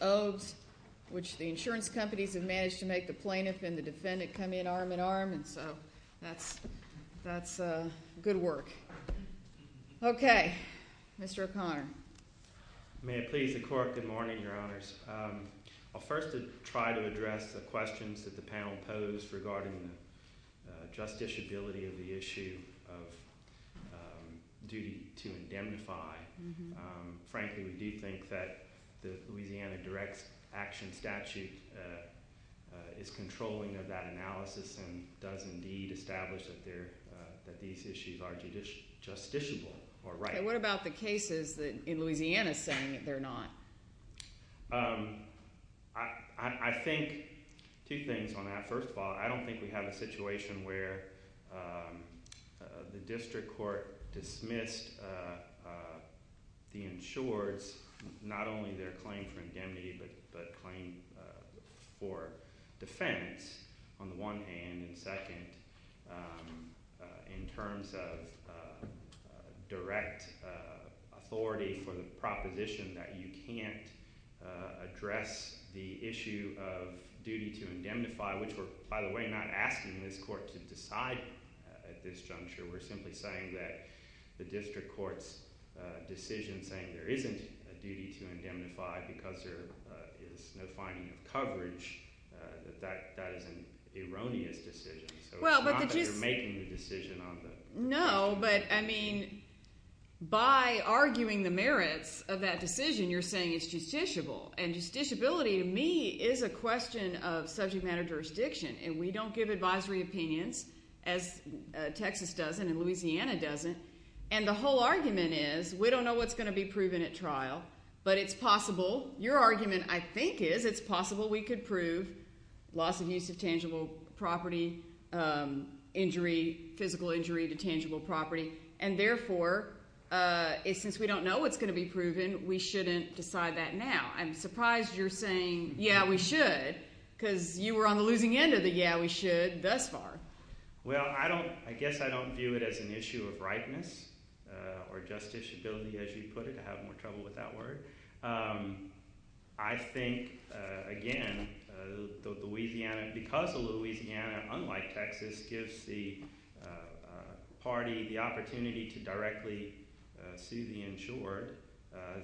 Obes, which the insurance companies have managed to make the plaintiff and the defendant come in arm-in-arm, and so that's good work. Okay, Mr. O'Connor. May it please the Court, good morning, Your Honors. I'll first try to address the questions that the panel posed regarding the justiciability of the issue of duty to indemnify. Frankly, we do think that the Louisiana Direct Action Statute is controlling of that analysis and does indeed establish that these issues are justiciable or right. Okay, what about the cases in Louisiana saying that they're not? I think two things on that. address the issue of duty to indemnify, which we're, by the way, not asking this Court to decide at this juncture. We're simply saying that the district court's decision saying there isn't a duty to indemnify because there is no finding of coverage, that that is an erroneous decision. So it's not that you're making the decision on the… No, but, I mean, by arguing the merits of that decision, you're saying it's justiciable, and justiciability to me is a question of subject matter jurisdiction, and we don't give advisory opinions as Texas doesn't and Louisiana doesn't, and the whole argument is we don't know what's going to be proven at trial, but it's possible – your argument, I think, is it's possible we could prove loss of use of tangible property, injury, physical injury to tangible property, and therefore, since we don't know what's going to be proven, we shouldn't decide that now. I'm surprised you're saying, yeah, we should because you were on the losing end of the yeah, we should thus far. Well, I don't – I guess I don't view it as an issue of ripeness or justiciability, as you put it. I have more trouble with that word. I think, again, Louisiana – because Louisiana, unlike Texas, gives the party the opportunity to directly sue the insured,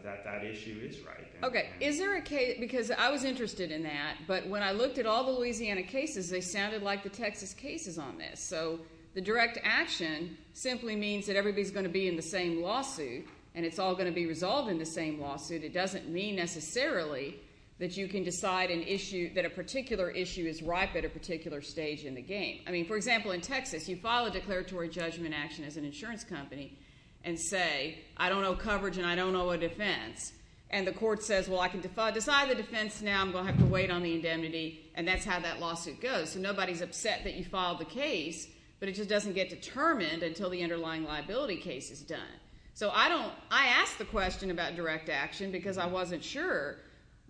that that issue is right. Okay, is there a – because I was interested in that, but when I looked at all the Louisiana cases, they sounded like the Texas cases on this. So the direct action simply means that everybody's going to be in the same lawsuit, and it's all going to be resolved in the same lawsuit. It doesn't mean necessarily that you can decide an issue – that a particular issue is ripe at a particular stage in the game. I mean, for example, in Texas, you file a declaratory judgment action as an insurance company and say I don't owe coverage and I don't owe a defense, and the court says, well, I can decide the defense now. I'm going to have to wait on the indemnity, and that's how that lawsuit goes. So nobody's upset that you filed the case, but it just doesn't get determined until the underlying liability case is done. So I don't – I asked the question about direct action because I wasn't sure,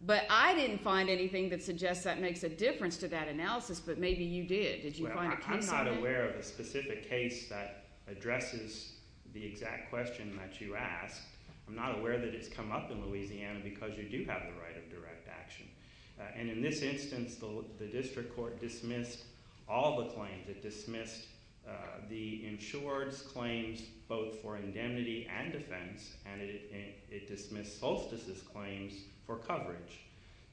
but I didn't find anything that suggests that makes a difference to that analysis, but maybe you did. Did you find a piece of it? Well, I'm not aware of a specific case that addresses the exact question that you asked. I'm not aware that it's come up in Louisiana because you do have the right of direct action. And in this instance, the district court dismissed all the claims. It dismissed the insured's claims both for indemnity and defense, and it dismissed Solstice's claims for coverage.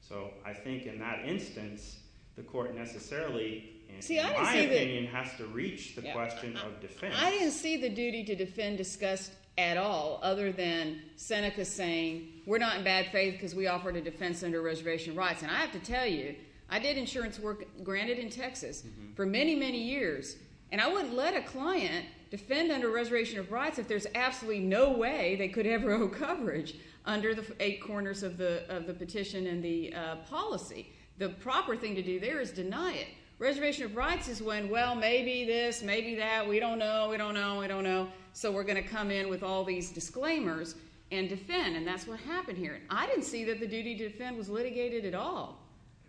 So I think in that instance, the court necessarily, in my opinion, has to reach the question of defense. I didn't see the duty to defend disgust at all other than Seneca saying we're not in bad faith because we offered a defense under reservation of rights. And I have to tell you, I did insurance work granted in Texas for many, many years, and I wouldn't let a client defend under reservation of rights if there's absolutely no way they could ever owe coverage under the eight corners of the petition and the policy. The proper thing to do there is deny it. Reservation of rights is when, well, maybe this, maybe that, we don't know, we don't know, we don't know, so we're going to come in with all these disclaimers and defend, and that's what happened here. I didn't see that the duty to defend was litigated at all.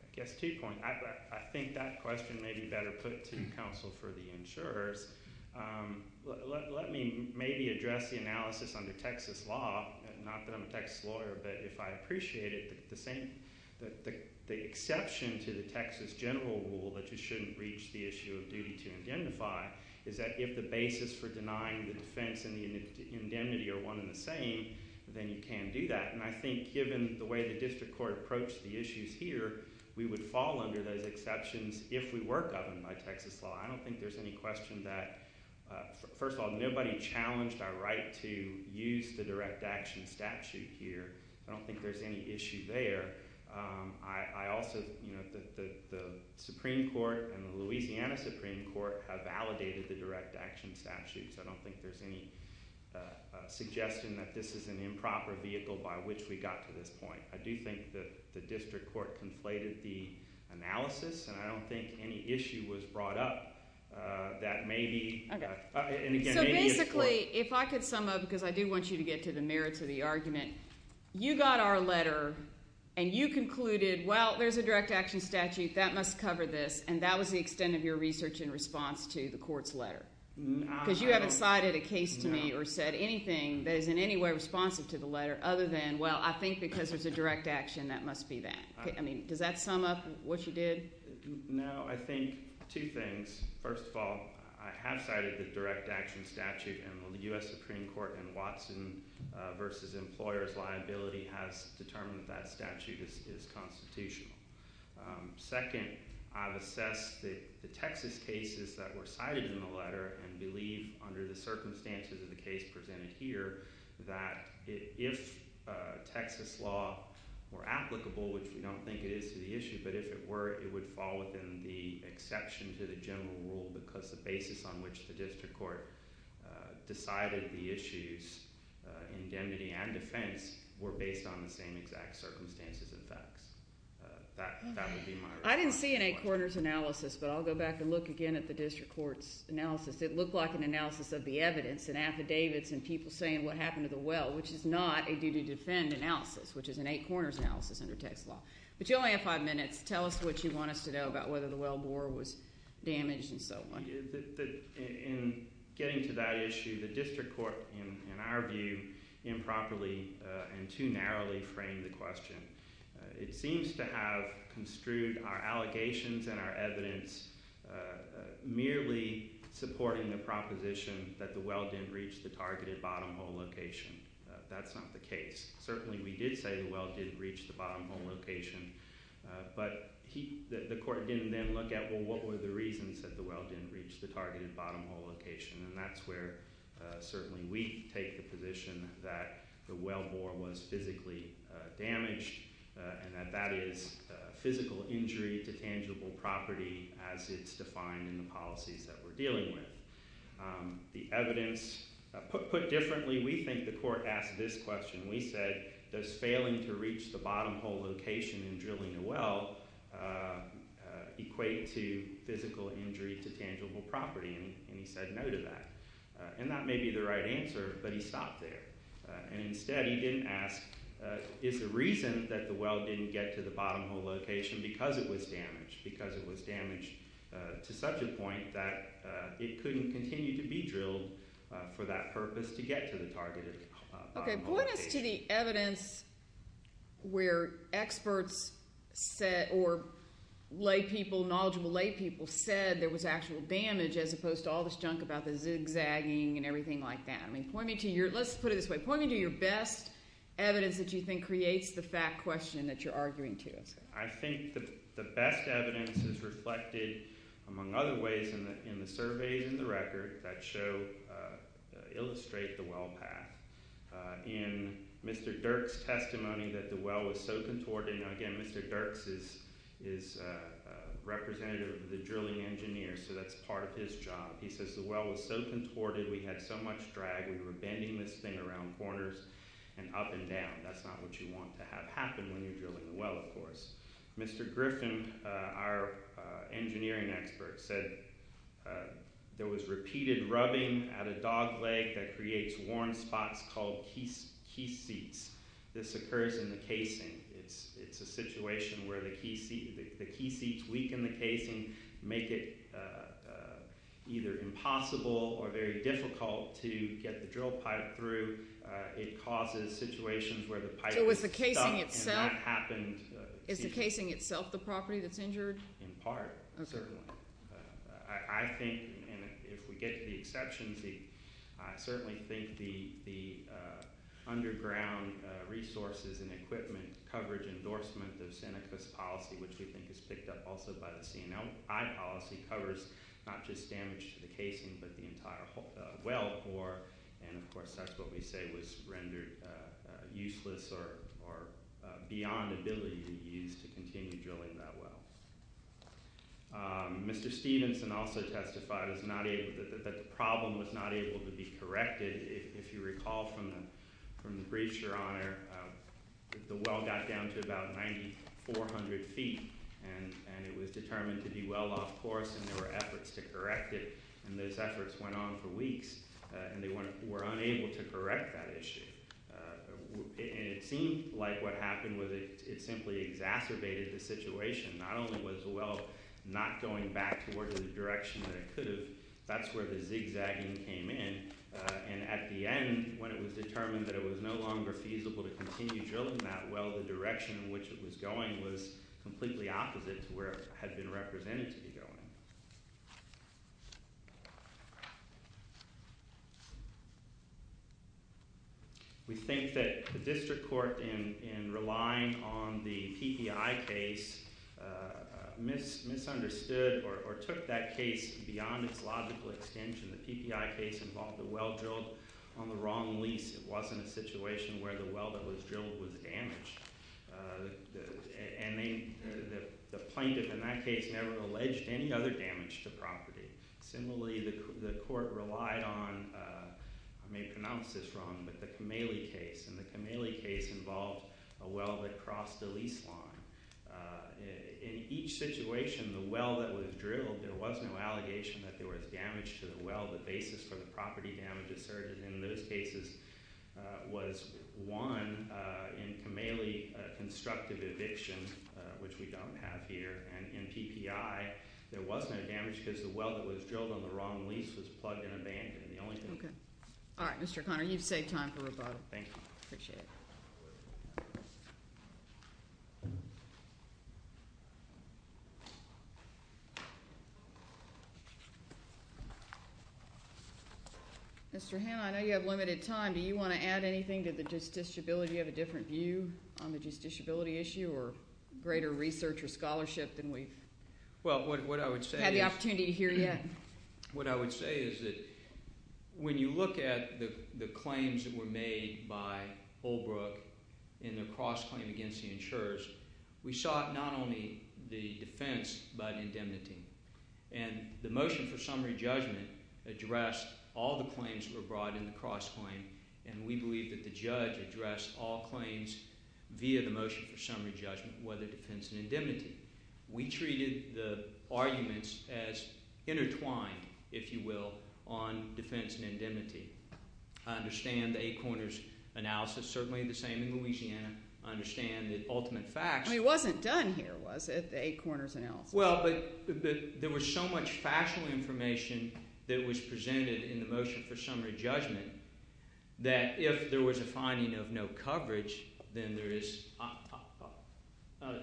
I guess two points. I think that question may be better put to counsel for the insurers. Let me maybe address the analysis under Texas law, not that I'm a Texas lawyer, but if I appreciate it, the exception to the Texas general rule that you shouldn't reach the issue of duty to identify is that if the basis for denying the defense and the indemnity are one and the same, then you can't do that. And I think given the way the district court approached the issues here, we would fall under those exceptions if we were governed by Texas law. I don't think there's any question that, first of all, nobody challenged our right to use the direct action statute here. I don't think there's any issue there. I also, you know, the Supreme Court and the Louisiana Supreme Court have validated the direct action statutes. I don't think there's any suggestion that this is an improper vehicle by which we got to this point. I do think that the district court conflated the analysis, and I don't think any issue was brought up that maybe, and again, maybe it's for. Really, if I could sum up, because I do want you to get to the merits of the argument. You got our letter, and you concluded, well, there's a direct action statute that must cover this, and that was the extent of your research in response to the court's letter. Because you haven't cited a case to me or said anything that is in any way responsive to the letter other than, well, I think because there's a direct action, that must be that. I mean, does that sum up what you did? No. I think two things. First of all, I have cited the direct action statute, and the U.S. Supreme Court in Watson v. Employers Liability has determined that that statute is constitutional. Second, I've assessed the Texas cases that were cited in the letter and believe under the circumstances of the case presented here that if Texas law were applicable, which we don't think it is to the issue, but if it were, it would fall within the exception to the general rule because the basis on which the district court decided the issues, indemnity and defense, were based on the same exact circumstances and facts. That would be my response. I didn't see an eight-corners analysis, but I'll go back and look again at the district court's analysis. It looked like an analysis of the evidence and affidavits and people saying what happened to the well, which is not a due-to-defend analysis, which is an eight-corners analysis under Texas law. But you only have five minutes. Tell us what you want us to know about whether the well bore was damaged and so on. In getting to that issue, the district court, in our view, improperly and too narrowly framed the question. It seems to have construed our allegations and our evidence merely supporting the proposition that the well didn't reach the targeted bottom hole location. That's not the case. Certainly we did say the well didn't reach the bottom hole location, but the court didn't then look at, well, what were the reasons that the well didn't reach the targeted bottom hole location? And that's where certainly we take the position that the well bore was physically damaged and that that is physical injury to tangible property as it's defined in the policies that we're dealing with. The evidence, put differently, we think the court asked this question. We said, does failing to reach the bottom hole location in drilling a well equate to physical injury to tangible property? And he said no to that. And that may be the right answer, but he stopped there. And instead he didn't ask, is the reason that the well didn't get to the bottom hole location because it was damaged, because it was damaged to such a point that it couldn't continue to be drilled for that purpose to get to the targeted bottom hole location. Okay, point us to the evidence where experts said or lay people, knowledgeable lay people, said there was actual damage as opposed to all this junk about the zigzagging and everything like that. I mean, point me to your, let's put it this way, point me to your best evidence that you think creates the fact question that you're arguing to. I think the best evidence is reflected, among other ways, in the surveys in the record that show, illustrate the well path. In Mr. Dirks' testimony that the well was so contorted, and again, Mr. Dirks is representative of the drilling engineers, so that's part of his job. He says the well was so contorted, we had so much drag, we were bending this thing around corners and up and down. That's not what you want to have happen when you're drilling the well, of course. Mr. Griffin, our engineering expert, said there was repeated rubbing at a dog leg that creates worn spots called key seats. This occurs in the casing. It's a situation where the key seats weaken the casing, make it either impossible or very difficult to get the drill pipe through. It causes situations where the pipe is stuck. So is the casing itself the property that's injured? In part, certainly. I think, and if we get to the exceptions, I certainly think the underground resources and equipment coverage endorsement of Seneca's policy, which we think is picked up also by the C&I policy, covers not just damage to the casing but the entire well core, and of course that's what we say was rendered useless or beyond ability to use to continue drilling that well. Mr. Stevenson also testified that the problem was not able to be corrected. If you recall from the briefs, Your Honor, the well got down to about 9,400 feet, and it was determined to be well off course, and there were efforts to correct it. And those efforts went on for weeks, and they were unable to correct that issue. It seemed like what happened was it simply exacerbated the situation. Not only was the well not going back towards the direction that it could have, that's where the zigzagging came in, and at the end, when it was determined that it was no longer feasible to continue drilling that well, the direction in which it was going was completely opposite to where it had been represented to be going. We think that the district court, in relying on the PPI case, misunderstood or took that case beyond its logical extension. The PPI case involved a well drilled on the wrong lease. It wasn't a situation where the well that was drilled was damaged, and the plaintiff in that case never alleged any other damage to property. Similarly, the court relied on – I may pronounce this wrong – but the Kamele case, and the Kamele case involved a well that crossed a lease line. In each situation, the well that was drilled, there was no allegation that there was damage to the well. The basis for the property damage asserted in those cases was, one, in Kamele constructive eviction, which we don't have here, and in PPI, there was no damage because the well that was drilled on the wrong lease was plugged and abandoned. The only thing – Okay. All right, Mr. Conner, you've saved time for rebuttal. Thank you. Appreciate it. Thank you. Mr. Hanna, I know you have limited time. Do you want to add anything to the justiciability? Do you have a different view on the justiciability issue or greater research or scholarship than we've had the opportunity to hear yet? What I would say is that when you look at the claims that were made by Holbrook in their cross-claim against the insurers, we saw not only the defense but indemnity. And the motion for summary judgment addressed all the claims that were brought in the cross-claim, and we believe that the judge addressed all claims via the motion for summary judgment, whether defense and indemnity. We treated the arguments as intertwined, if you will, on defense and indemnity. I understand the eight corners analysis. Certainly the same in Louisiana. I understand the ultimate facts. It wasn't done here, was it, the eight corners analysis? Well, but there was so much factual information that was presented in the motion for summary judgment that if there was a finding of no coverage, then there is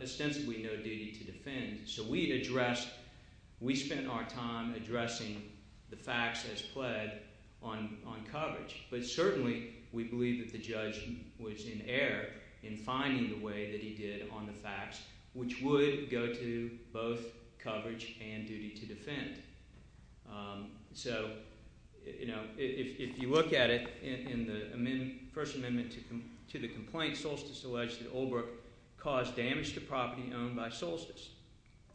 ostensibly no duty to defend. So we addressed – we spent our time addressing the facts as pled on coverage. But certainly we believe that the judge was in error in finding the way that he did on the facts, which would go to both coverage and duty to defend. So if you look at it, in the First Amendment to the complaint, Solstice alleged that Oldbrook caused damage to property owned by Solstice,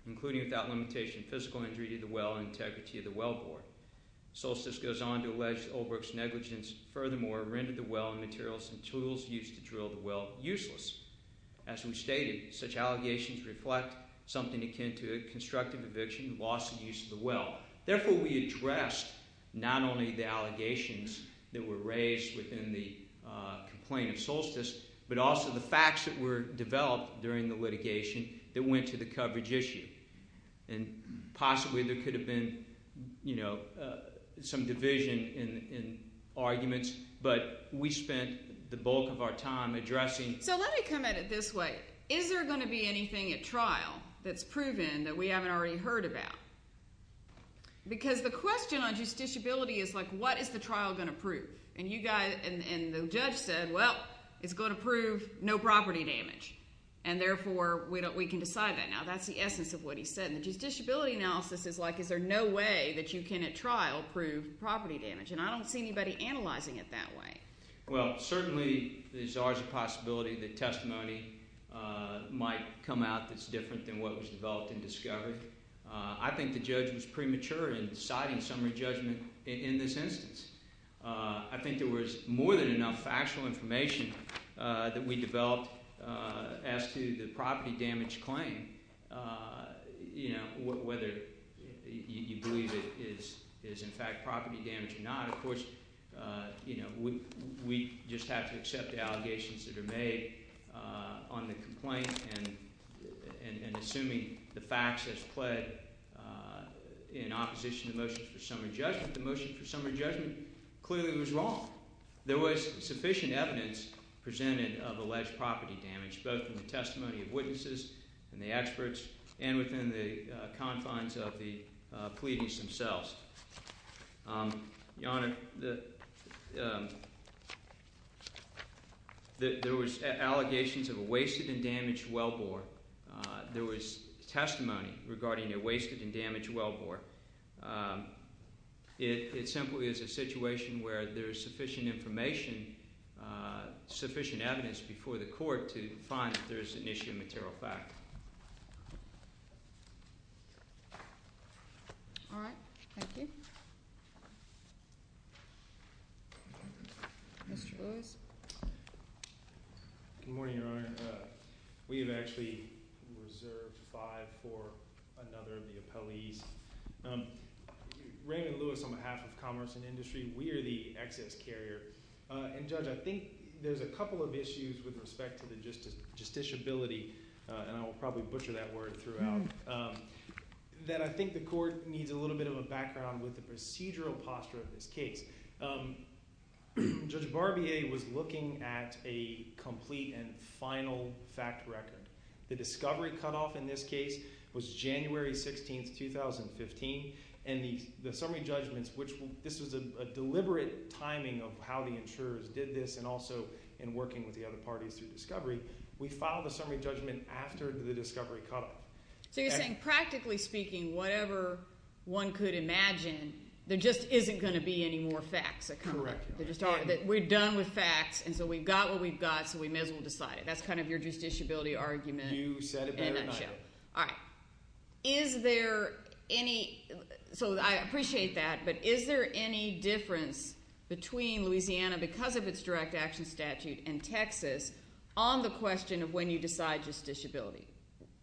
including without limitation physical injury to the well and integrity of the wellbore. Solstice goes on to allege that Oldbrook's negligence furthermore rendered the well and materials and tools used to drill the well useless. As we stated, such allegations reflect something akin to a constructive eviction, loss of use of the well. Therefore, we addressed not only the allegations that were raised within the complaint of Solstice, but also the facts that were developed during the litigation that went to the coverage issue. And possibly there could have been some division in arguments, but we spent the bulk of our time addressing – So let me come at it this way. Is there going to be anything at trial that's proven that we haven't already heard about? Because the question on justiciability is like what is the trial going to prove? And you guys – and the judge said, well, it's going to prove no property damage. And therefore we can decide that. Now that's the essence of what he said. And the justiciability analysis is like is there no way that you can at trial prove property damage? And I don't see anybody analyzing it that way. Well, certainly there's always a possibility that testimony might come out that's different than what was developed and discovered. I think the judge was premature in deciding summary judgment in this instance. I think there was more than enough factual information that we developed as to the property damage claim, whether you believe it is in fact property damage or not. Of course, we just have to accept the allegations that are made on the complaint and assuming the facts as pled in opposition to motions for summary judgment. The motion for summary judgment clearly was wrong. There was sufficient evidence presented of alleged property damage, both in the testimony of witnesses and the experts and within the confines of the pleadings themselves. Your Honor, there was allegations of a wasted and damaged wellbore. There was testimony regarding a wasted and damaged wellbore. It simply is a situation where there is sufficient information, sufficient evidence before the court to find that there is an issue of material fact. All right, thank you. Mr. Lewis. Good morning, Your Honor. We have actually reserved five for another of the appellees. Raymond Lewis, on behalf of Commerce and Industry, we are the excess carrier. And, Judge, I think there's a couple of issues with respect to the justiciability, and I will probably butcher that word throughout, that I think the court needs a little bit of a background with the procedural posture of this case. Judge Barbier was looking at a complete and final fact record. The discovery cutoff in this case was January 16, 2015. And the summary judgments, which this was a deliberate timing of how the insurers did this and also in working with the other parties through discovery, we filed a summary judgment after the discovery cutoff. So you're saying practically speaking, whatever one could imagine, there just isn't going to be any more facts. Correct. We're done with facts, and so we've got what we've got, so we may as well decide it. That's kind of your justiciability argument in a nutshell. You said it better than I did. All right. Is there any – so I appreciate that, but is there any difference between Louisiana, because of its direct action statute, and Texas on the question of when you decide justiciability,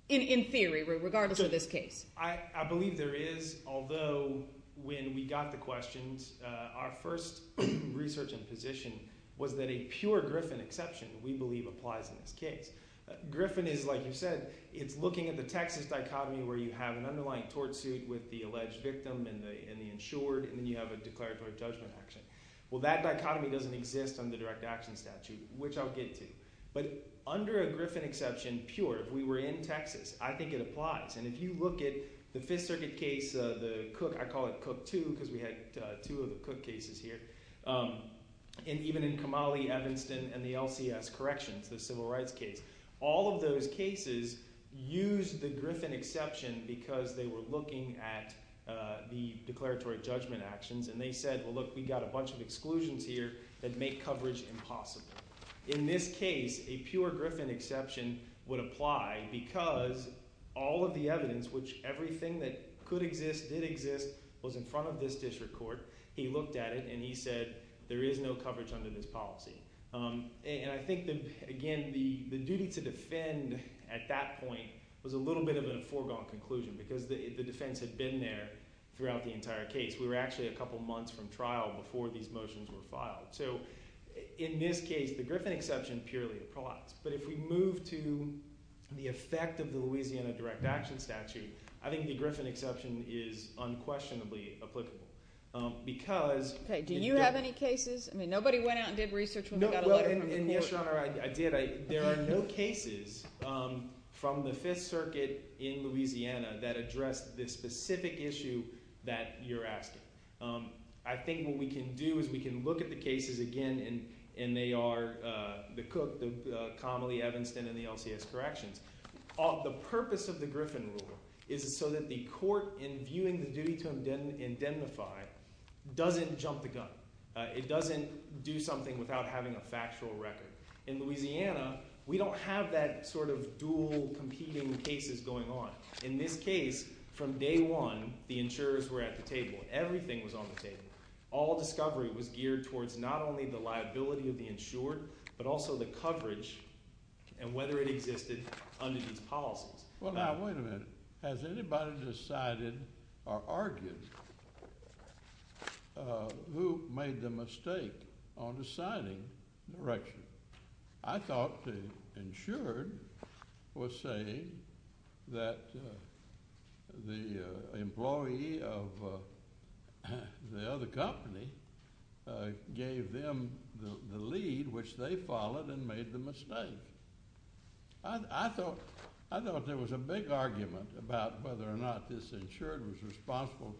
in theory, regardless of this case? I believe there is, although when we got the questions, our first research and position was that a pure Griffin exception, we believe, applies in this case. Griffin is, like you said, it's looking at the Texas dichotomy where you have an underlying tort suit with the alleged victim and the insured, and then you have a declaratory judgment action. Well, that dichotomy doesn't exist under direct action statute, which I'll get to. But under a Griffin exception, pure, if we were in Texas, I think it applies. And if you look at the Fifth Circuit case, the Cook – I call it Cook 2 because we had two of the Cook cases here. And even in Kamali, Evanston, and the LCS corrections, the civil rights case, all of those cases used the Griffin exception because they were looking at the declaratory judgment actions. And they said, well, look, we've got a bunch of exclusions here that make coverage impossible. In this case, a pure Griffin exception would apply because all of the evidence, which everything that could exist, did exist, was in front of this district court. He looked at it and he said there is no coverage under this policy. And I think, again, the duty to defend at that point was a little bit of a foregone conclusion because the defense had been there throughout the entire case. We were actually a couple months from trial before these motions were filed. So in this case, the Griffin exception purely applies. But if we move to the effect of the Louisiana Direct Action Statute, I think the Griffin exception is unquestionably applicable because – Do you have any cases? I mean nobody went out and did research when we got a letter from the court. Yes, Your Honor, I did. There are no cases from the Fifth Circuit in Louisiana that address this specific issue that you're asking. I think what we can do is we can look at the cases again, and they are the Cook, the Connelly, Evanston, and the LCS corrections. The purpose of the Griffin rule is so that the court, in viewing the duty to indemnify, doesn't jump the gun. It doesn't do something without having a factual record. In Louisiana, we don't have that sort of dual competing cases going on. In this case, from day one, the insurers were at the table. Everything was on the table. All discovery was geared towards not only the liability of the insured but also the coverage and whether it existed under these policies. Well, now, wait a minute. Has anybody decided or argued who made the mistake on deciding the direction? I thought the insured was saying that the employee of the other company gave them the lead, which they followed and made the mistake. I thought there was a big argument about whether or not this insured was responsible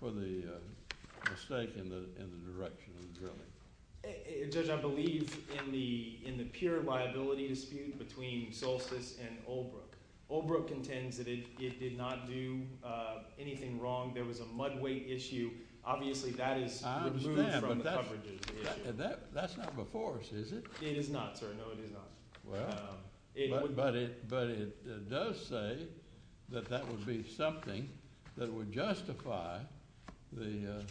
for the mistake in the direction of drilling. Judge, I believe in the pure liability dispute between Solstice and Oldbrook. Oldbrook intends that it did not do anything wrong. There was a mud weight issue. Obviously, that is removed from the coverage of the issue. I understand, but that's not before us, is it? It is not, sir. No, it is not. Well, but it does say that that would be something that would justify the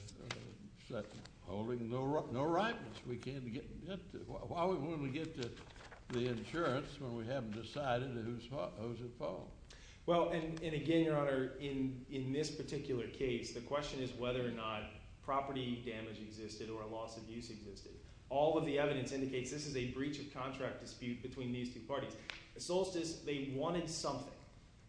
holding no writings. We can't get – why wouldn't we get the insurance when we haven't decided who's at fault? Well, and again, Your Honor, in this particular case, the question is whether or not property damage existed or a loss of use existed. All of the evidence indicates this is a breach of contract dispute between these two parties. Solstice, they wanted something,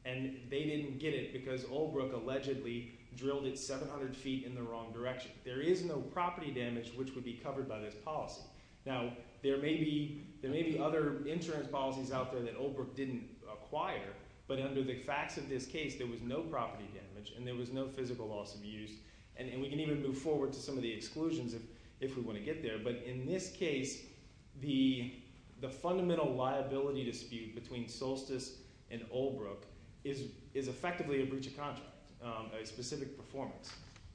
and they didn't get it because Oldbrook allegedly drilled it 700 feet in the wrong direction. There is no property damage which would be covered by this policy. Now, there may be other insurance policies out there that Oldbrook didn't acquire, but under the facts of this case, there was no property damage and there was no physical loss of use. And we can even move forward to some of the exclusions if we want to get there. But in this case, the fundamental liability dispute between Solstice and Oldbrook is effectively a breach of contract, a specific performance.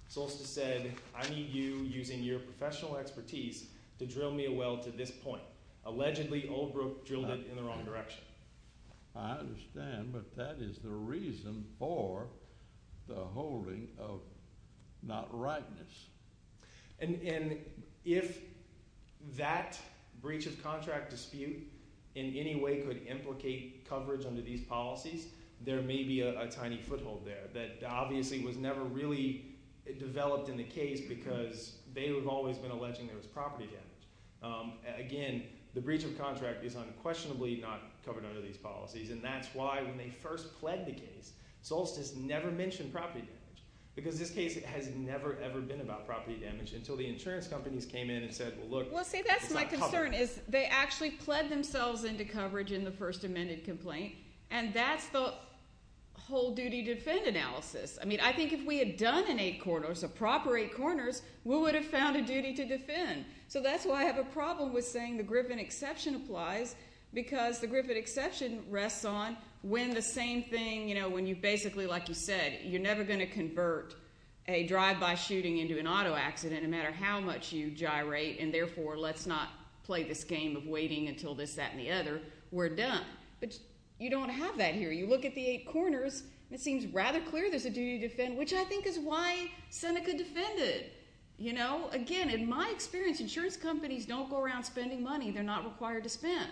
Solstice said, I need you using your professional expertise to drill me a well to this point. Allegedly, Oldbrook drilled it in the wrong direction. I understand, but that is the reason for the holding of not rightness. And if that breach of contract dispute in any way could implicate coverage under these policies, there may be a tiny foothold there that obviously was never really developed in the case because they have always been alleging there was property damage. Again, the breach of contract is unquestionably not covered under these policies, and that's why when they first pled the case, Solstice never mentioned property damage because this case has never, ever been about property damage until the insurance companies came in and said, well, look, it's not covered. Well, see, that's my concern is they actually pled themselves into coverage in the first amended complaint, and that's the whole duty to defend analysis. I mean I think if we had done an eight corners, a proper eight corners, we would have found a duty to defend. So that's why I have a problem with saying the Griffin exception applies because the Griffin exception rests on when the same thing, when you basically, like you said, you're never going to convert a drive-by shooting into an auto accident no matter how much you gyrate, and therefore let's not play this game of waiting until this, that, and the other. We're done. But you don't have that here. You look at the eight corners, and it seems rather clear there's a duty to defend, which I think is why Seneca defended. Again, in my experience, insurance companies don't go around spending money they're not required to spend,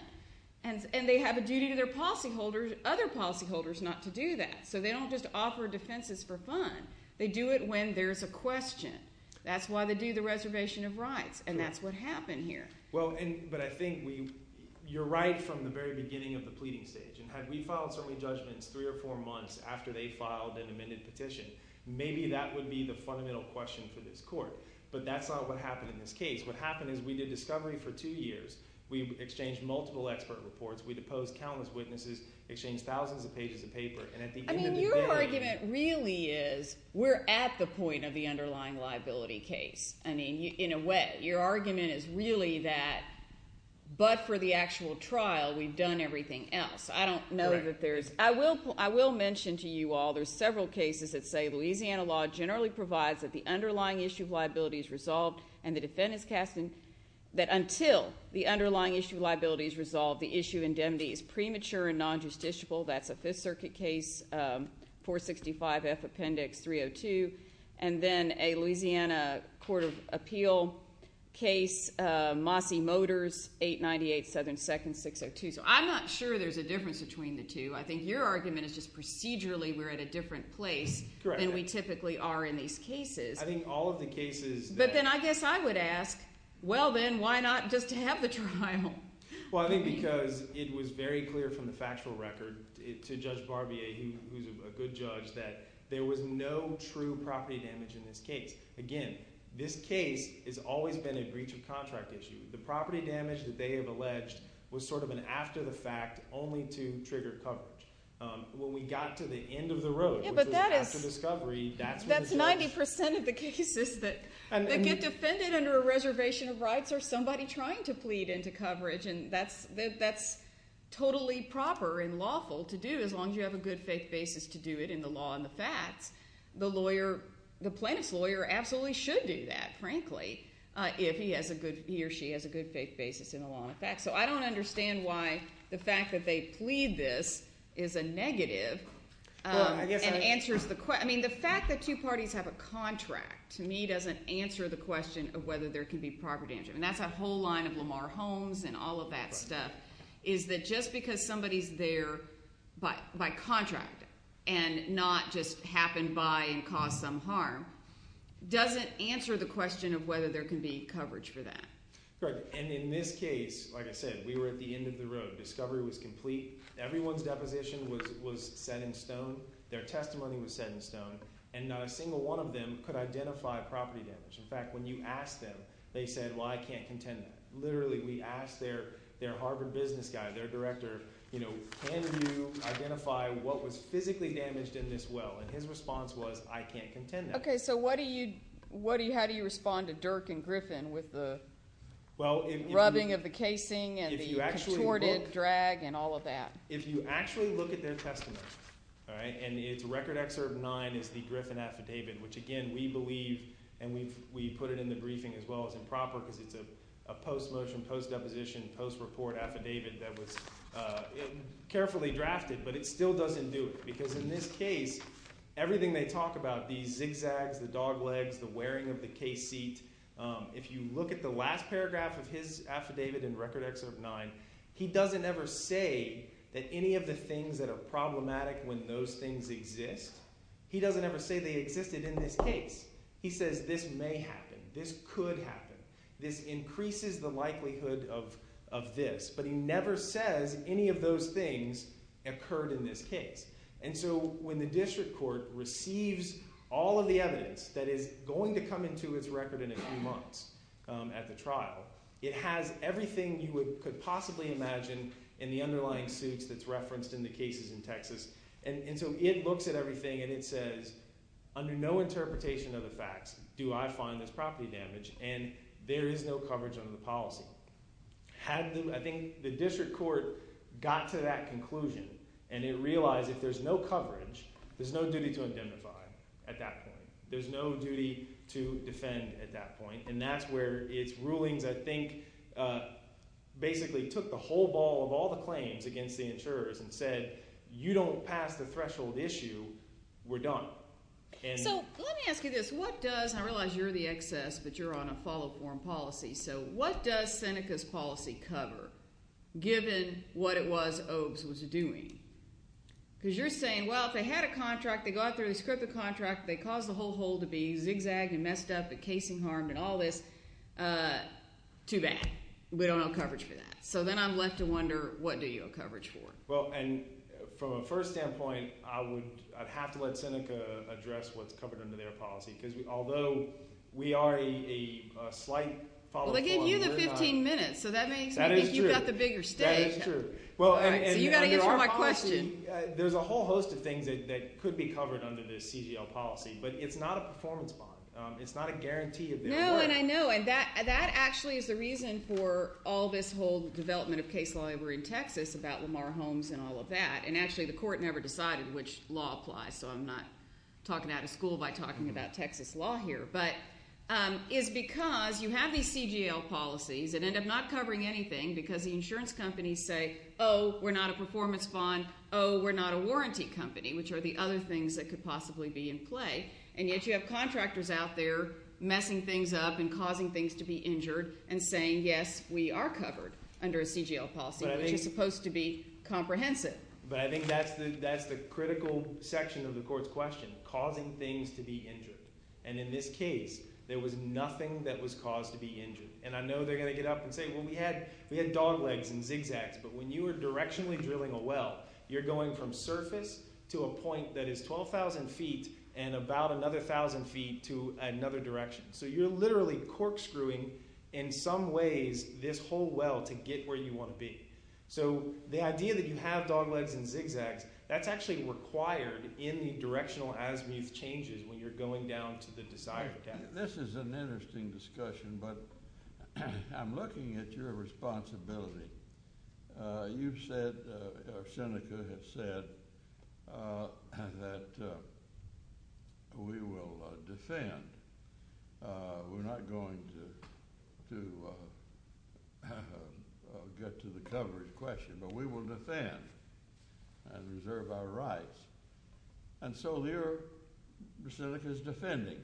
and they have a duty to their policyholders, other policyholders, not to do that. So they don't just offer defenses for fun. They do it when there's a question. That's why they do the reservation of rights, and that's what happened here. Well, but I think we – you're right from the very beginning of the pleading stage, and had we filed certainly judgments three or four months after they filed an amended petition, maybe that would be the fundamental question for this court. But that's not what happened in this case. What happened is we did discovery for two years. We exchanged multiple expert reports. We deposed countless witnesses, exchanged thousands of pages of paper, and at the end of the day… I mean your argument really is we're at the point of the underlying liability case. I mean, in a way, your argument is really that but for the actual trial, we've done everything else. I don't know that there's… I will mention to you all there's several cases that say Louisiana law generally provides that the underlying issue of liability is resolved, and the defendant's casting that until the underlying issue of liability is resolved, the issue of indemnity is premature and non-justiciable. That's a Fifth Circuit case, 465F Appendix 302, and then a Louisiana Court of Appeal case, Mosse Motors, 898 Southern 2nd, 602. So I'm not sure there's a difference between the two. I think your argument is just procedurally we're at a different place than we typically are in these cases. I think all of the cases that… But then I guess I would ask, well, then why not just to have the trial? Well, I think because it was very clear from the factual record to Judge Barbier, who's a good judge, that there was no true property damage in this case. Again, this case has always been a breach of contract issue. The property damage that they have alleged was sort of an after-the-fact only to trigger coverage. When we got to the end of the road, which was after discovery, that's what the judge… That's 90% of the cases that get defended under a reservation of rights are somebody trying to plead into coverage, and that's totally proper and lawful to do as long as you have a good faith basis to do it in the law and the facts. The plaintiff's lawyer absolutely should do that, frankly, if he or she has a good faith basis in the law and the facts. So I don't understand why the fact that they plead this is a negative and answers the question. I mean the fact that two parties have a contract to me doesn't answer the question of whether there could be property damage. I mean that's a whole line of Lamar Holmes and all of that stuff is that just because somebody's there by contract and not just happened by and caused some harm doesn't answer the question of whether there can be coverage for that. And in this case, like I said, we were at the end of the road. Discovery was complete. Everyone's deposition was set in stone. Their testimony was set in stone, and not a single one of them could identify property damage. In fact, when you asked them, they said, well, I can't contend that. Literally, we asked their Harvard business guy, their director, can you identify what was physically damaged in this well? And his response was, I can't contend that. Okay, so what do you – how do you respond to Dirk and Griffin with the rubbing of the casing and the contorted drag and all of that? If you actually look at their testimony, and it's Record Excerpt 9 is the Griffin affidavit, which, again, we believe and we put it in the briefing as well as improper because it's a post-motion, post-deposition, post-report affidavit that was carefully drafted. But it still doesn't do it because in this case, everything they talk about, these zigzags, the dog legs, the wearing of the case seat, if you look at the last paragraph of his affidavit in Record Excerpt 9, he doesn't ever say that any of the things that are problematic when those things exist, he doesn't ever say they existed in this case. He says this may happen, this could happen, this increases the likelihood of this, but he never says any of those things occurred in this case. And so when the district court receives all of the evidence that is going to come into its record in a few months at the trial, it has everything you could possibly imagine in the underlying suits that's referenced in the cases in Texas. And so it looks at everything and it says under no interpretation of the facts do I find this property damaged and there is no coverage under the policy. Had the – I think the district court got to that conclusion and it realized if there's no coverage, there's no duty to indemnify at that point. There's no duty to defend at that point. And that's where its rulings I think basically took the whole ball of all the claims against the insurers and said you don't pass the threshold issue, we're done. So let me ask you this. What does – and I realize you're the excess, but you're on a follow-up form policy. So what does Seneca's policy cover given what it was Obst was doing? Because you're saying, well, if they had a contract, they go out there, they script the contract, they cause the whole hole to be zigzagged and messed up and casing harmed and all this, too bad. We don't have coverage for that. So then I'm left to wonder what do you have coverage for? Well, and from a first standpoint, I would – I'd have to let Seneca address what's covered under their policy because although we are a slight follow-up form. Well, they gave you the 15 minutes, so that makes me think you've got the bigger stick. That is true. So you've got to answer my question. There's a whole host of things that could be covered under this CGL policy, but it's not a performance bond. It's not a guarantee of their work. Well, and I know, and that actually is the reason for all this whole development of case law over in Texas about Lamar Holmes and all of that. And actually the court never decided which law applies, so I'm not talking out of school by talking about Texas law here. But it's because you have these CGL policies that end up not covering anything because the insurance companies say, oh, we're not a performance bond. Oh, we're not a warranty company, which are the other things that could possibly be in play. And yet you have contractors out there messing things up and causing things to be injured and saying, yes, we are covered under a CGL policy, which is supposed to be comprehensive. But I think that's the critical section of the court's question, causing things to be injured. And in this case, there was nothing that was caused to be injured. And I know they're going to get up and say, well, we had dog legs and zigzags. But when you are directionally drilling a well, you're going from surface to a point that is 12,000 feet and about another 1,000 feet to another direction. So you're literally corkscrewing in some ways this whole well to get where you want to be. So the idea that you have dog legs and zigzags, that's actually required in the directional azimuth changes when you're going down to the desired depth. This is an interesting discussion, but I'm looking at your responsibility. You've said, or Seneca has said, that we will defend. We're not going to get to the coverage question, but we will defend and reserve our rights. And so there, Seneca is defending.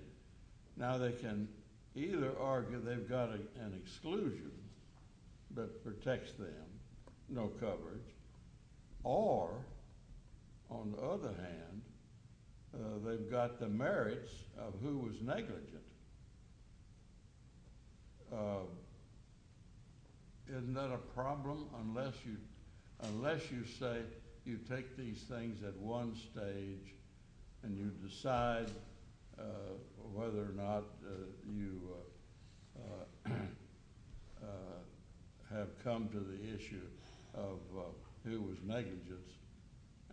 Now, they can either argue they've got an exclusion that protects them, no coverage. Or, on the other hand, they've got the merits of who was negligent. Isn't that a problem? Unless you say you take these things at one stage and you decide whether or not you have come to the issue of who was negligent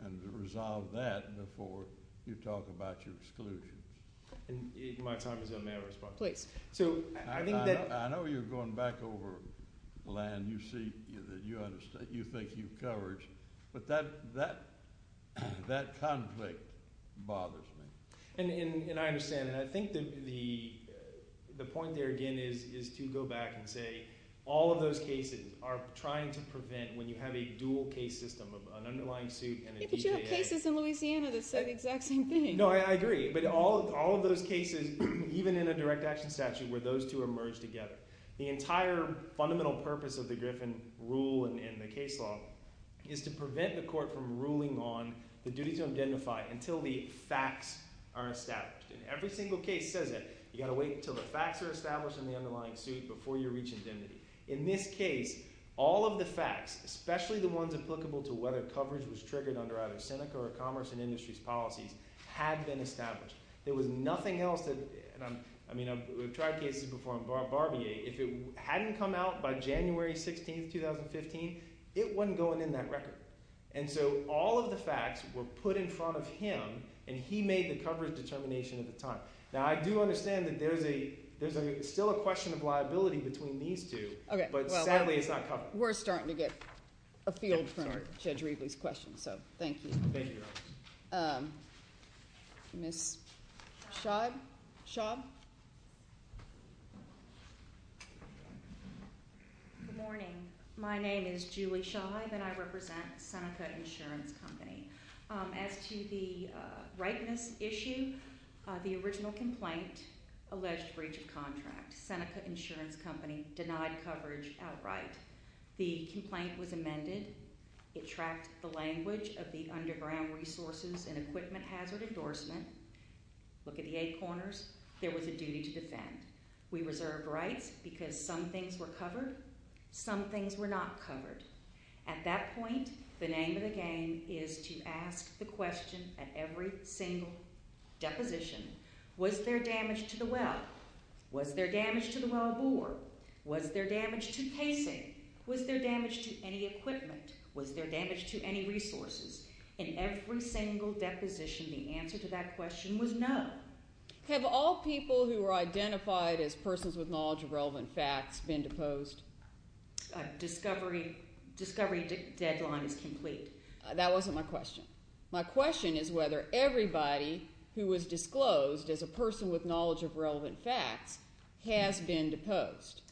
and resolve that before you talk about your exclusions. My time is up. May I respond? Please. I know you're going back over land you think you've covered, but that conflict bothers me. And I understand. And I think the point there, again, is to go back and say all of those cases are trying to prevent when you have a dual case system of an underlying suit and a DJA. But you have cases in Louisiana that say the exact same thing. No, I agree. But all of those cases, even in a direct action statute, where those two are merged together. The entire fundamental purpose of the Griffin rule and the case law is to prevent the court from ruling on the duty to identify until the facts are established. And every single case says that. You've got to wait until the facts are established in the underlying suit before you reach indemnity. In this case, all of the facts, especially the ones applicable to whether coverage was triggered under either Seneca or Commerce and Industries policies, had been established. There was nothing else that – I mean, we've tried cases before on Barbier. If it hadn't come out by January 16, 2015, it wasn't going in that record. And so all of the facts were put in front of him and he made the coverage determination at the time. Now, I do understand that there's still a question of liability between these two. But sadly, it's not covered. We're starting to get afield from Judge Riebley's question, so thank you. Thank you, Your Honor. Ms. Schaub? Good morning. My name is Julie Schaub, and I represent Seneca Insurance Company. As to the ripeness issue, the original complaint alleged breach of contract. Seneca Insurance Company denied coverage outright. The complaint was amended. It tracked the language of the Underground Resources and Equipment Hazard Endorsement. Look at the eight corners. There was a duty to defend. We reserved rights because some things were covered, some things were not covered. At that point, the name of the game is to ask the question at every single deposition, was there damage to the well? Was there damage to the wellbore? Was there damage to casing? Was there damage to any equipment? Was there damage to any resources? In every single deposition, the answer to that question was no. Have all people who are identified as persons with knowledge of relevant facts been deposed? Discovery deadline is complete. That wasn't my question. My question is whether everybody who was disclosed as a person with knowledge of relevant facts has been deposed.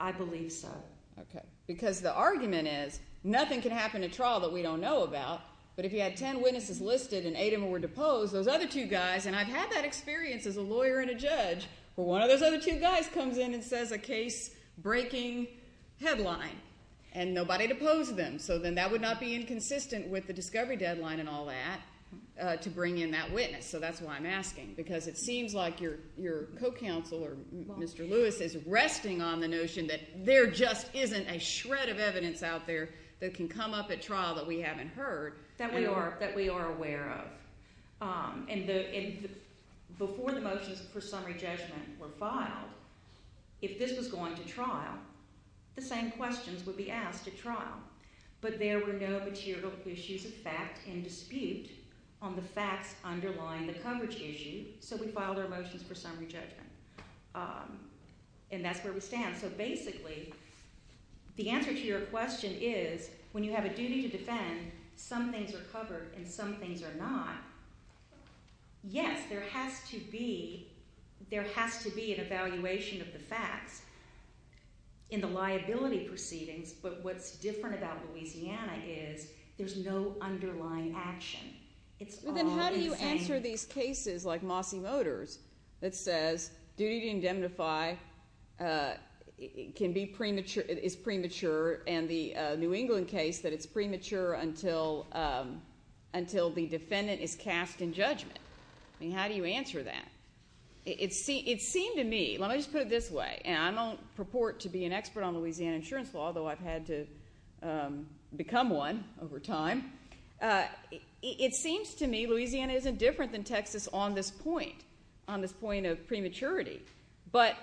I believe so. Okay. Because the argument is nothing can happen in trial that we don't know about, but if you had ten witnesses listed and eight of them were deposed, those other two guys, and I've had that experience as a lawyer and a judge, where one of those other two guys comes in and says a case-breaking headline and nobody deposed them, so then that would not be inconsistent with the discovery deadline and all that to bring in that witness. So that's why I'm asking, because it seems like your co-counsel or Mr. Lewis is resting on the notion that there just isn't a shred of evidence out there that can come up at trial that we haven't heard. That we are aware of. And before the motions for summary judgment were filed, if this was going to trial, the same questions would be asked at trial, but there were no material issues of fact and dispute on the facts underlying the coverage issue, so we filed our motions for summary judgment. And that's where we stand. So basically the answer to your question is when you have a duty to defend, and some things are covered and some things are not, yes, there has to be an evaluation of the facts in the liability proceedings, but what's different about Louisiana is there's no underlying action. It's all the same. Well, then how do you answer these cases like Mossie Motors that says duty to indemnify is premature and the New England case that it's premature until the defendant is cast in judgment? I mean, how do you answer that? It seemed to me, let me just put it this way, and I don't purport to be an expert on Louisiana insurance law, although I've had to become one over time, it seems to me Louisiana isn't different than Texas on this point, on this point of prematurity. But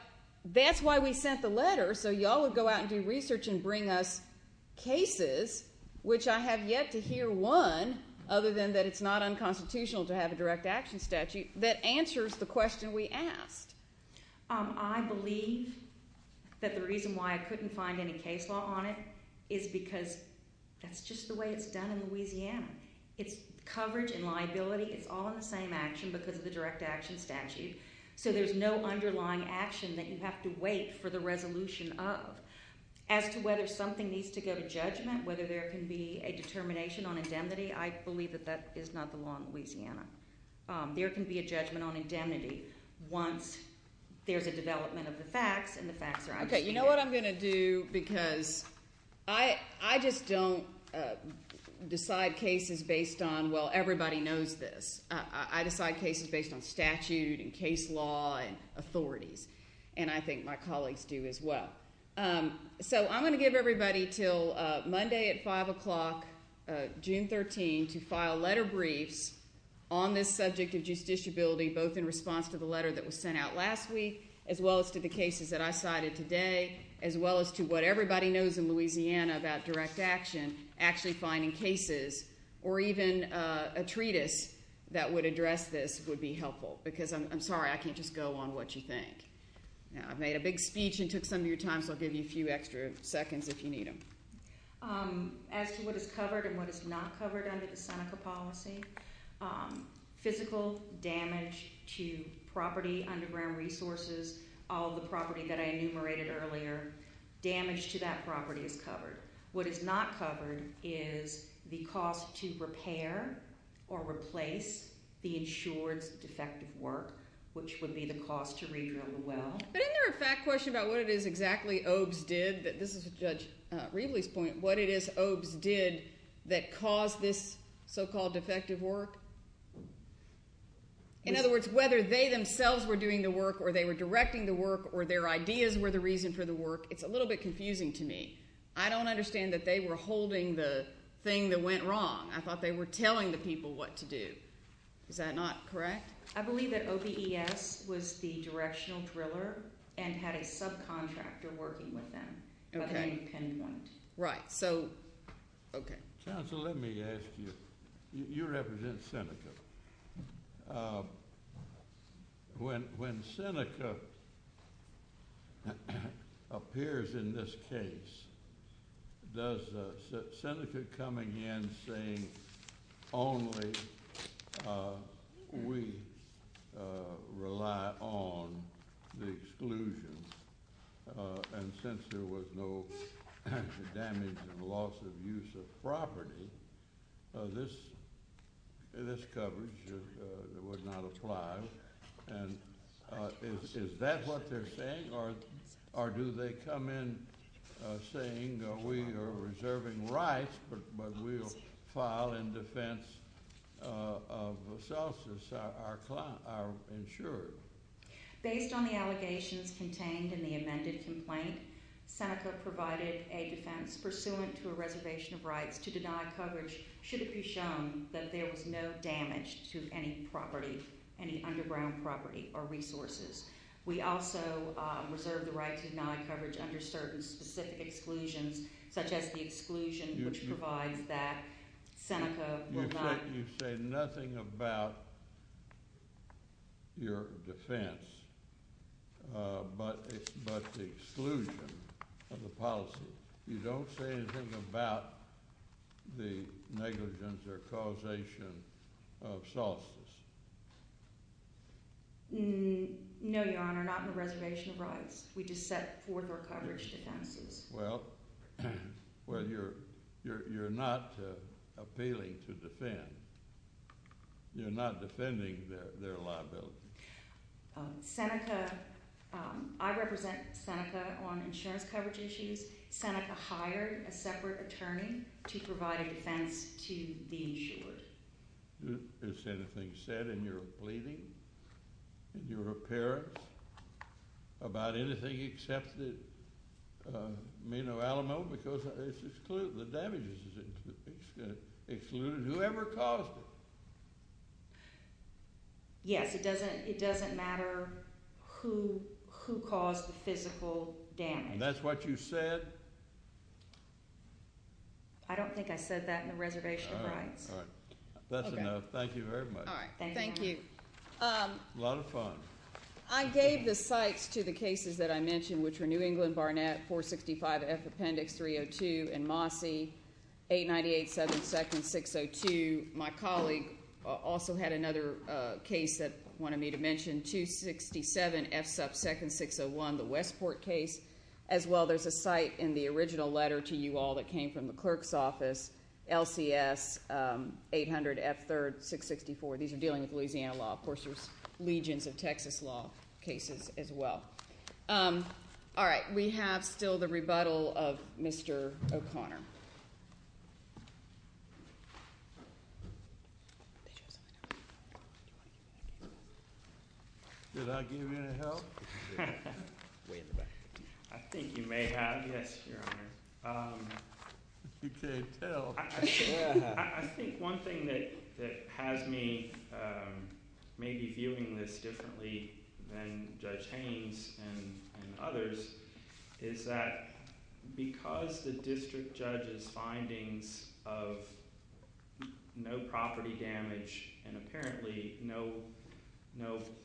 that's why we sent the letter, so you all would go out and do research and bring us cases, which I have yet to hear one, other than that it's not unconstitutional to have a direct action statute, that answers the question we asked. I believe that the reason why I couldn't find any case law on it is because that's just the way it's done in Louisiana. It's coverage and liability, it's all in the same action because of the direct action statute, so there's no underlying action that you have to wait for the resolution of. As to whether something needs to go to judgment, whether there can be a determination on indemnity, I believe that that is not the law in Louisiana. There can be a judgment on indemnity once there's a development of the facts and the facts are understood. Okay, you know what I'm going to do, because I just don't decide cases based on, well, everybody knows this. I decide cases based on statute and case law and authorities, and I think my colleagues do as well. So I'm going to give everybody until Monday at 5 o'clock, June 13, to file letter briefs on this subject of justiciability, both in response to the letter that was sent out last week, as well as to the cases that I cited today, as well as to what everybody knows in Louisiana about direct action, actually finding cases or even a treatise that would address this would be helpful, because I'm sorry I can't just go on what you think. Now, I've made a big speech and took some of your time, so I'll give you a few extra seconds if you need them. As to what is covered and what is not covered under the Seneca policy, physical damage to property, underground resources, all the property that I enumerated earlier, damage to that property is covered. What is not covered is the cost to repair or replace the insured's defective work, which would be the cost to re-drill the well. But isn't there a fact question about what it is exactly OABS did? This is Judge Riebley's point. What it is OABS did that caused this so-called defective work? In other words, whether they themselves were doing the work or they were directing the work or their ideas were the reason for the work, it's a little bit confusing to me. I don't understand that they were holding the thing that went wrong. I thought they were telling the people what to do. Is that not correct? I believe that OBES was the directional driller and had a subcontractor working with them. Okay. Right, so, okay. Counsel, let me ask you. You represent Seneca. When Seneca appears in this case, does Seneca come again saying only we rely on the exclusion? And since there was no damage and loss of use of property, this coverage would not apply. And is that what they're saying? Or do they come in saying we are reserving rights but we'll file in defense of the self-insured? Based on the allegations contained in the amended complaint, Seneca provided a defense pursuant to a reservation of rights to deny coverage should it be shown that there was no damage to any property, any underground property or resources. We also reserve the right to deny coverage under certain specific exclusions, such as the exclusion which provides that Seneca will not— but the exclusion of the policy. You don't say anything about the negligence or causation of solstice? No, Your Honor, not in the reservation of rights. We just set forth our coverage defenses. Well, you're not appealing to defend. You're not defending their liability. Seneca—I represent Seneca on insurance coverage issues. Seneca hired a separate attorney to provide a defense to the insured. Is anything said in your pleading, in your appearance, about anything except that Mino Alamo? No, because the damage is excluded. Whoever caused it? Yes, it doesn't matter who caused the physical damage. That's what you said? I don't think I said that in the reservation of rights. All right. That's enough. Thank you very much. Thank you. A lot of fun. I gave the cites to the cases that I mentioned, which were New England Barnett, 465F Appendix 302, and Mosse, 898-7-602. My colleague also had another case that wanted me to mention, 267F-2-601, the Westport case. As well, there's a cite in the original letter to you all that came from the clerk's office, LCS 800F-3-664. These are dealing with Louisiana law. Of course, there's legions of Texas law cases as well. All right. We have still the rebuttal of Mr. O'Connor. Did I give you any help? Way in the back. I think you may have, yes, Your Honor. You can't tell. I think one thing that has me maybe viewing this differently than Judge Haynes and others is that because the district judge's findings of no property damage and apparently no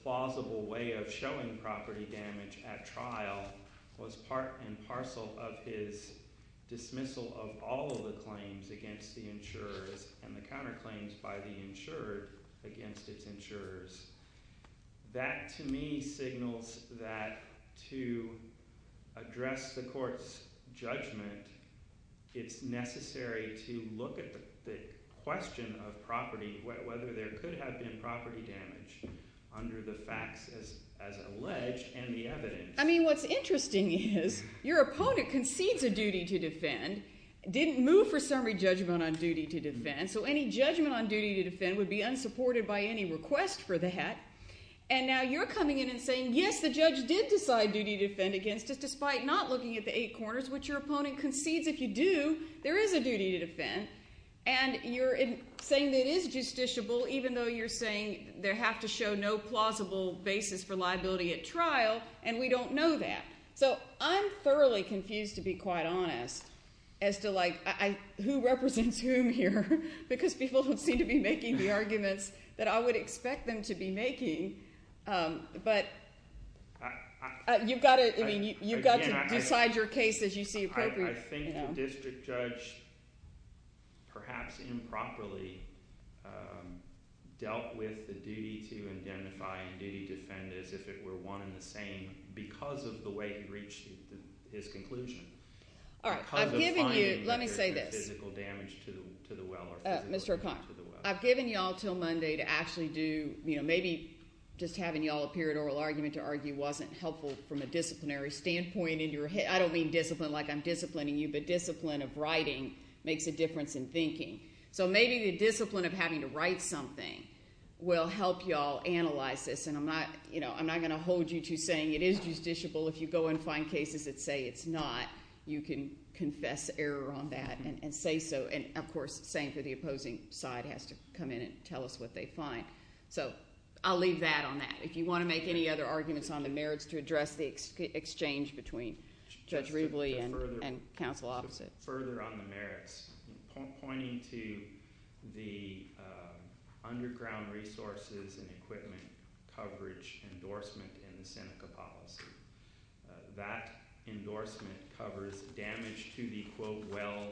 plausible way of showing property damage at trial was part and parcel of his dismissal of all of the claims against the insurers and the counterclaims by the insured against its insurers, that to me signals that to address the court's judgment, it's necessary to look at the question of property, whether there could have been property damage under the facts as alleged and the evidence. I mean what's interesting is your opponent concedes a duty to defend, didn't move for summary judgment on duty to defend, so any judgment on duty to defend would be unsupported by any request for the hat. And now you're coming in and saying, yes, the judge did decide duty to defend against us, despite not looking at the eight corners, which your opponent concedes if you do, there is a duty to defend. And you're saying that it is justiciable, even though you're saying there have to show no plausible basis for liability at trial, and we don't know that. So I'm thoroughly confused, to be quite honest, as to who represents whom here, because people seem to be making the arguments that I would expect them to be making. But you've got to decide your case as you see appropriate. I think the district judge perhaps improperly dealt with the duty to identify and duty to defend as if it were one and the same because of the way he reached his conclusion. All right, I've given you – let me say this. Physical damage to the well. Mr. O'Connor, I've given you all until Monday to actually do – maybe just having you all appear at oral argument to argue wasn't helpful from a disciplinary standpoint. I don't mean discipline like I'm disciplining you, but discipline of writing makes a difference in thinking. So maybe the discipline of having to write something will help you all analyze this. And I'm not going to hold you to saying it is justiciable. If you go and find cases that say it's not, you can confess error on that and say so. And, of course, same for the opposing side has to come in and tell us what they find. So I'll leave that on that. If you want to make any other arguments on the merits to address the exchange between Judge Ribley and counsel opposite. Further on the merits, pointing to the underground resources and equipment coverage endorsement in the Seneca policy. That endorsement covers damage to the, quote, well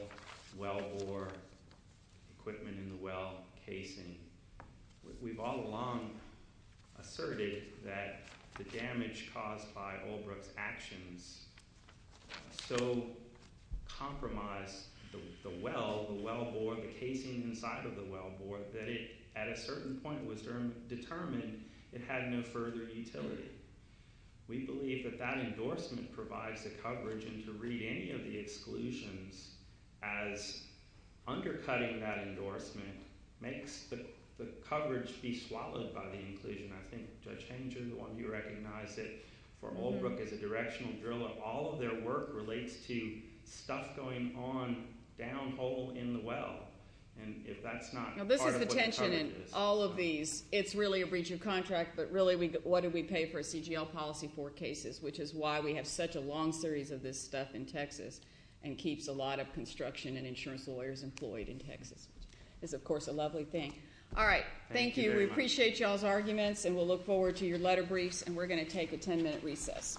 bore, equipment in the well casing. We've all along asserted that the damage caused by Oldbrook's actions so compromised the well, the well bore, the casing inside of the well bore that it, at a certain point, was determined it had no further utility. We believe that that endorsement provides the coverage and to read any of the exclusions as undercutting that endorsement makes the coverage be swallowed by the inclusion. I think Judge Hanger, the one you recognize, that for Oldbrook as a directional driller, all of their work relates to stuff going on down hole in the well. This is the tension in all of these. It's really a breach of contract, but really what do we pay for a CGL policy for cases, which is why we have such a long series of this stuff in Texas and keeps a lot of construction and insurance lawyers employed in Texas. It's, of course, a lovely thing. All right. Thank you. We appreciate y'all's arguments and we'll look forward to your letter briefs and we're going to take a 10 minute recess.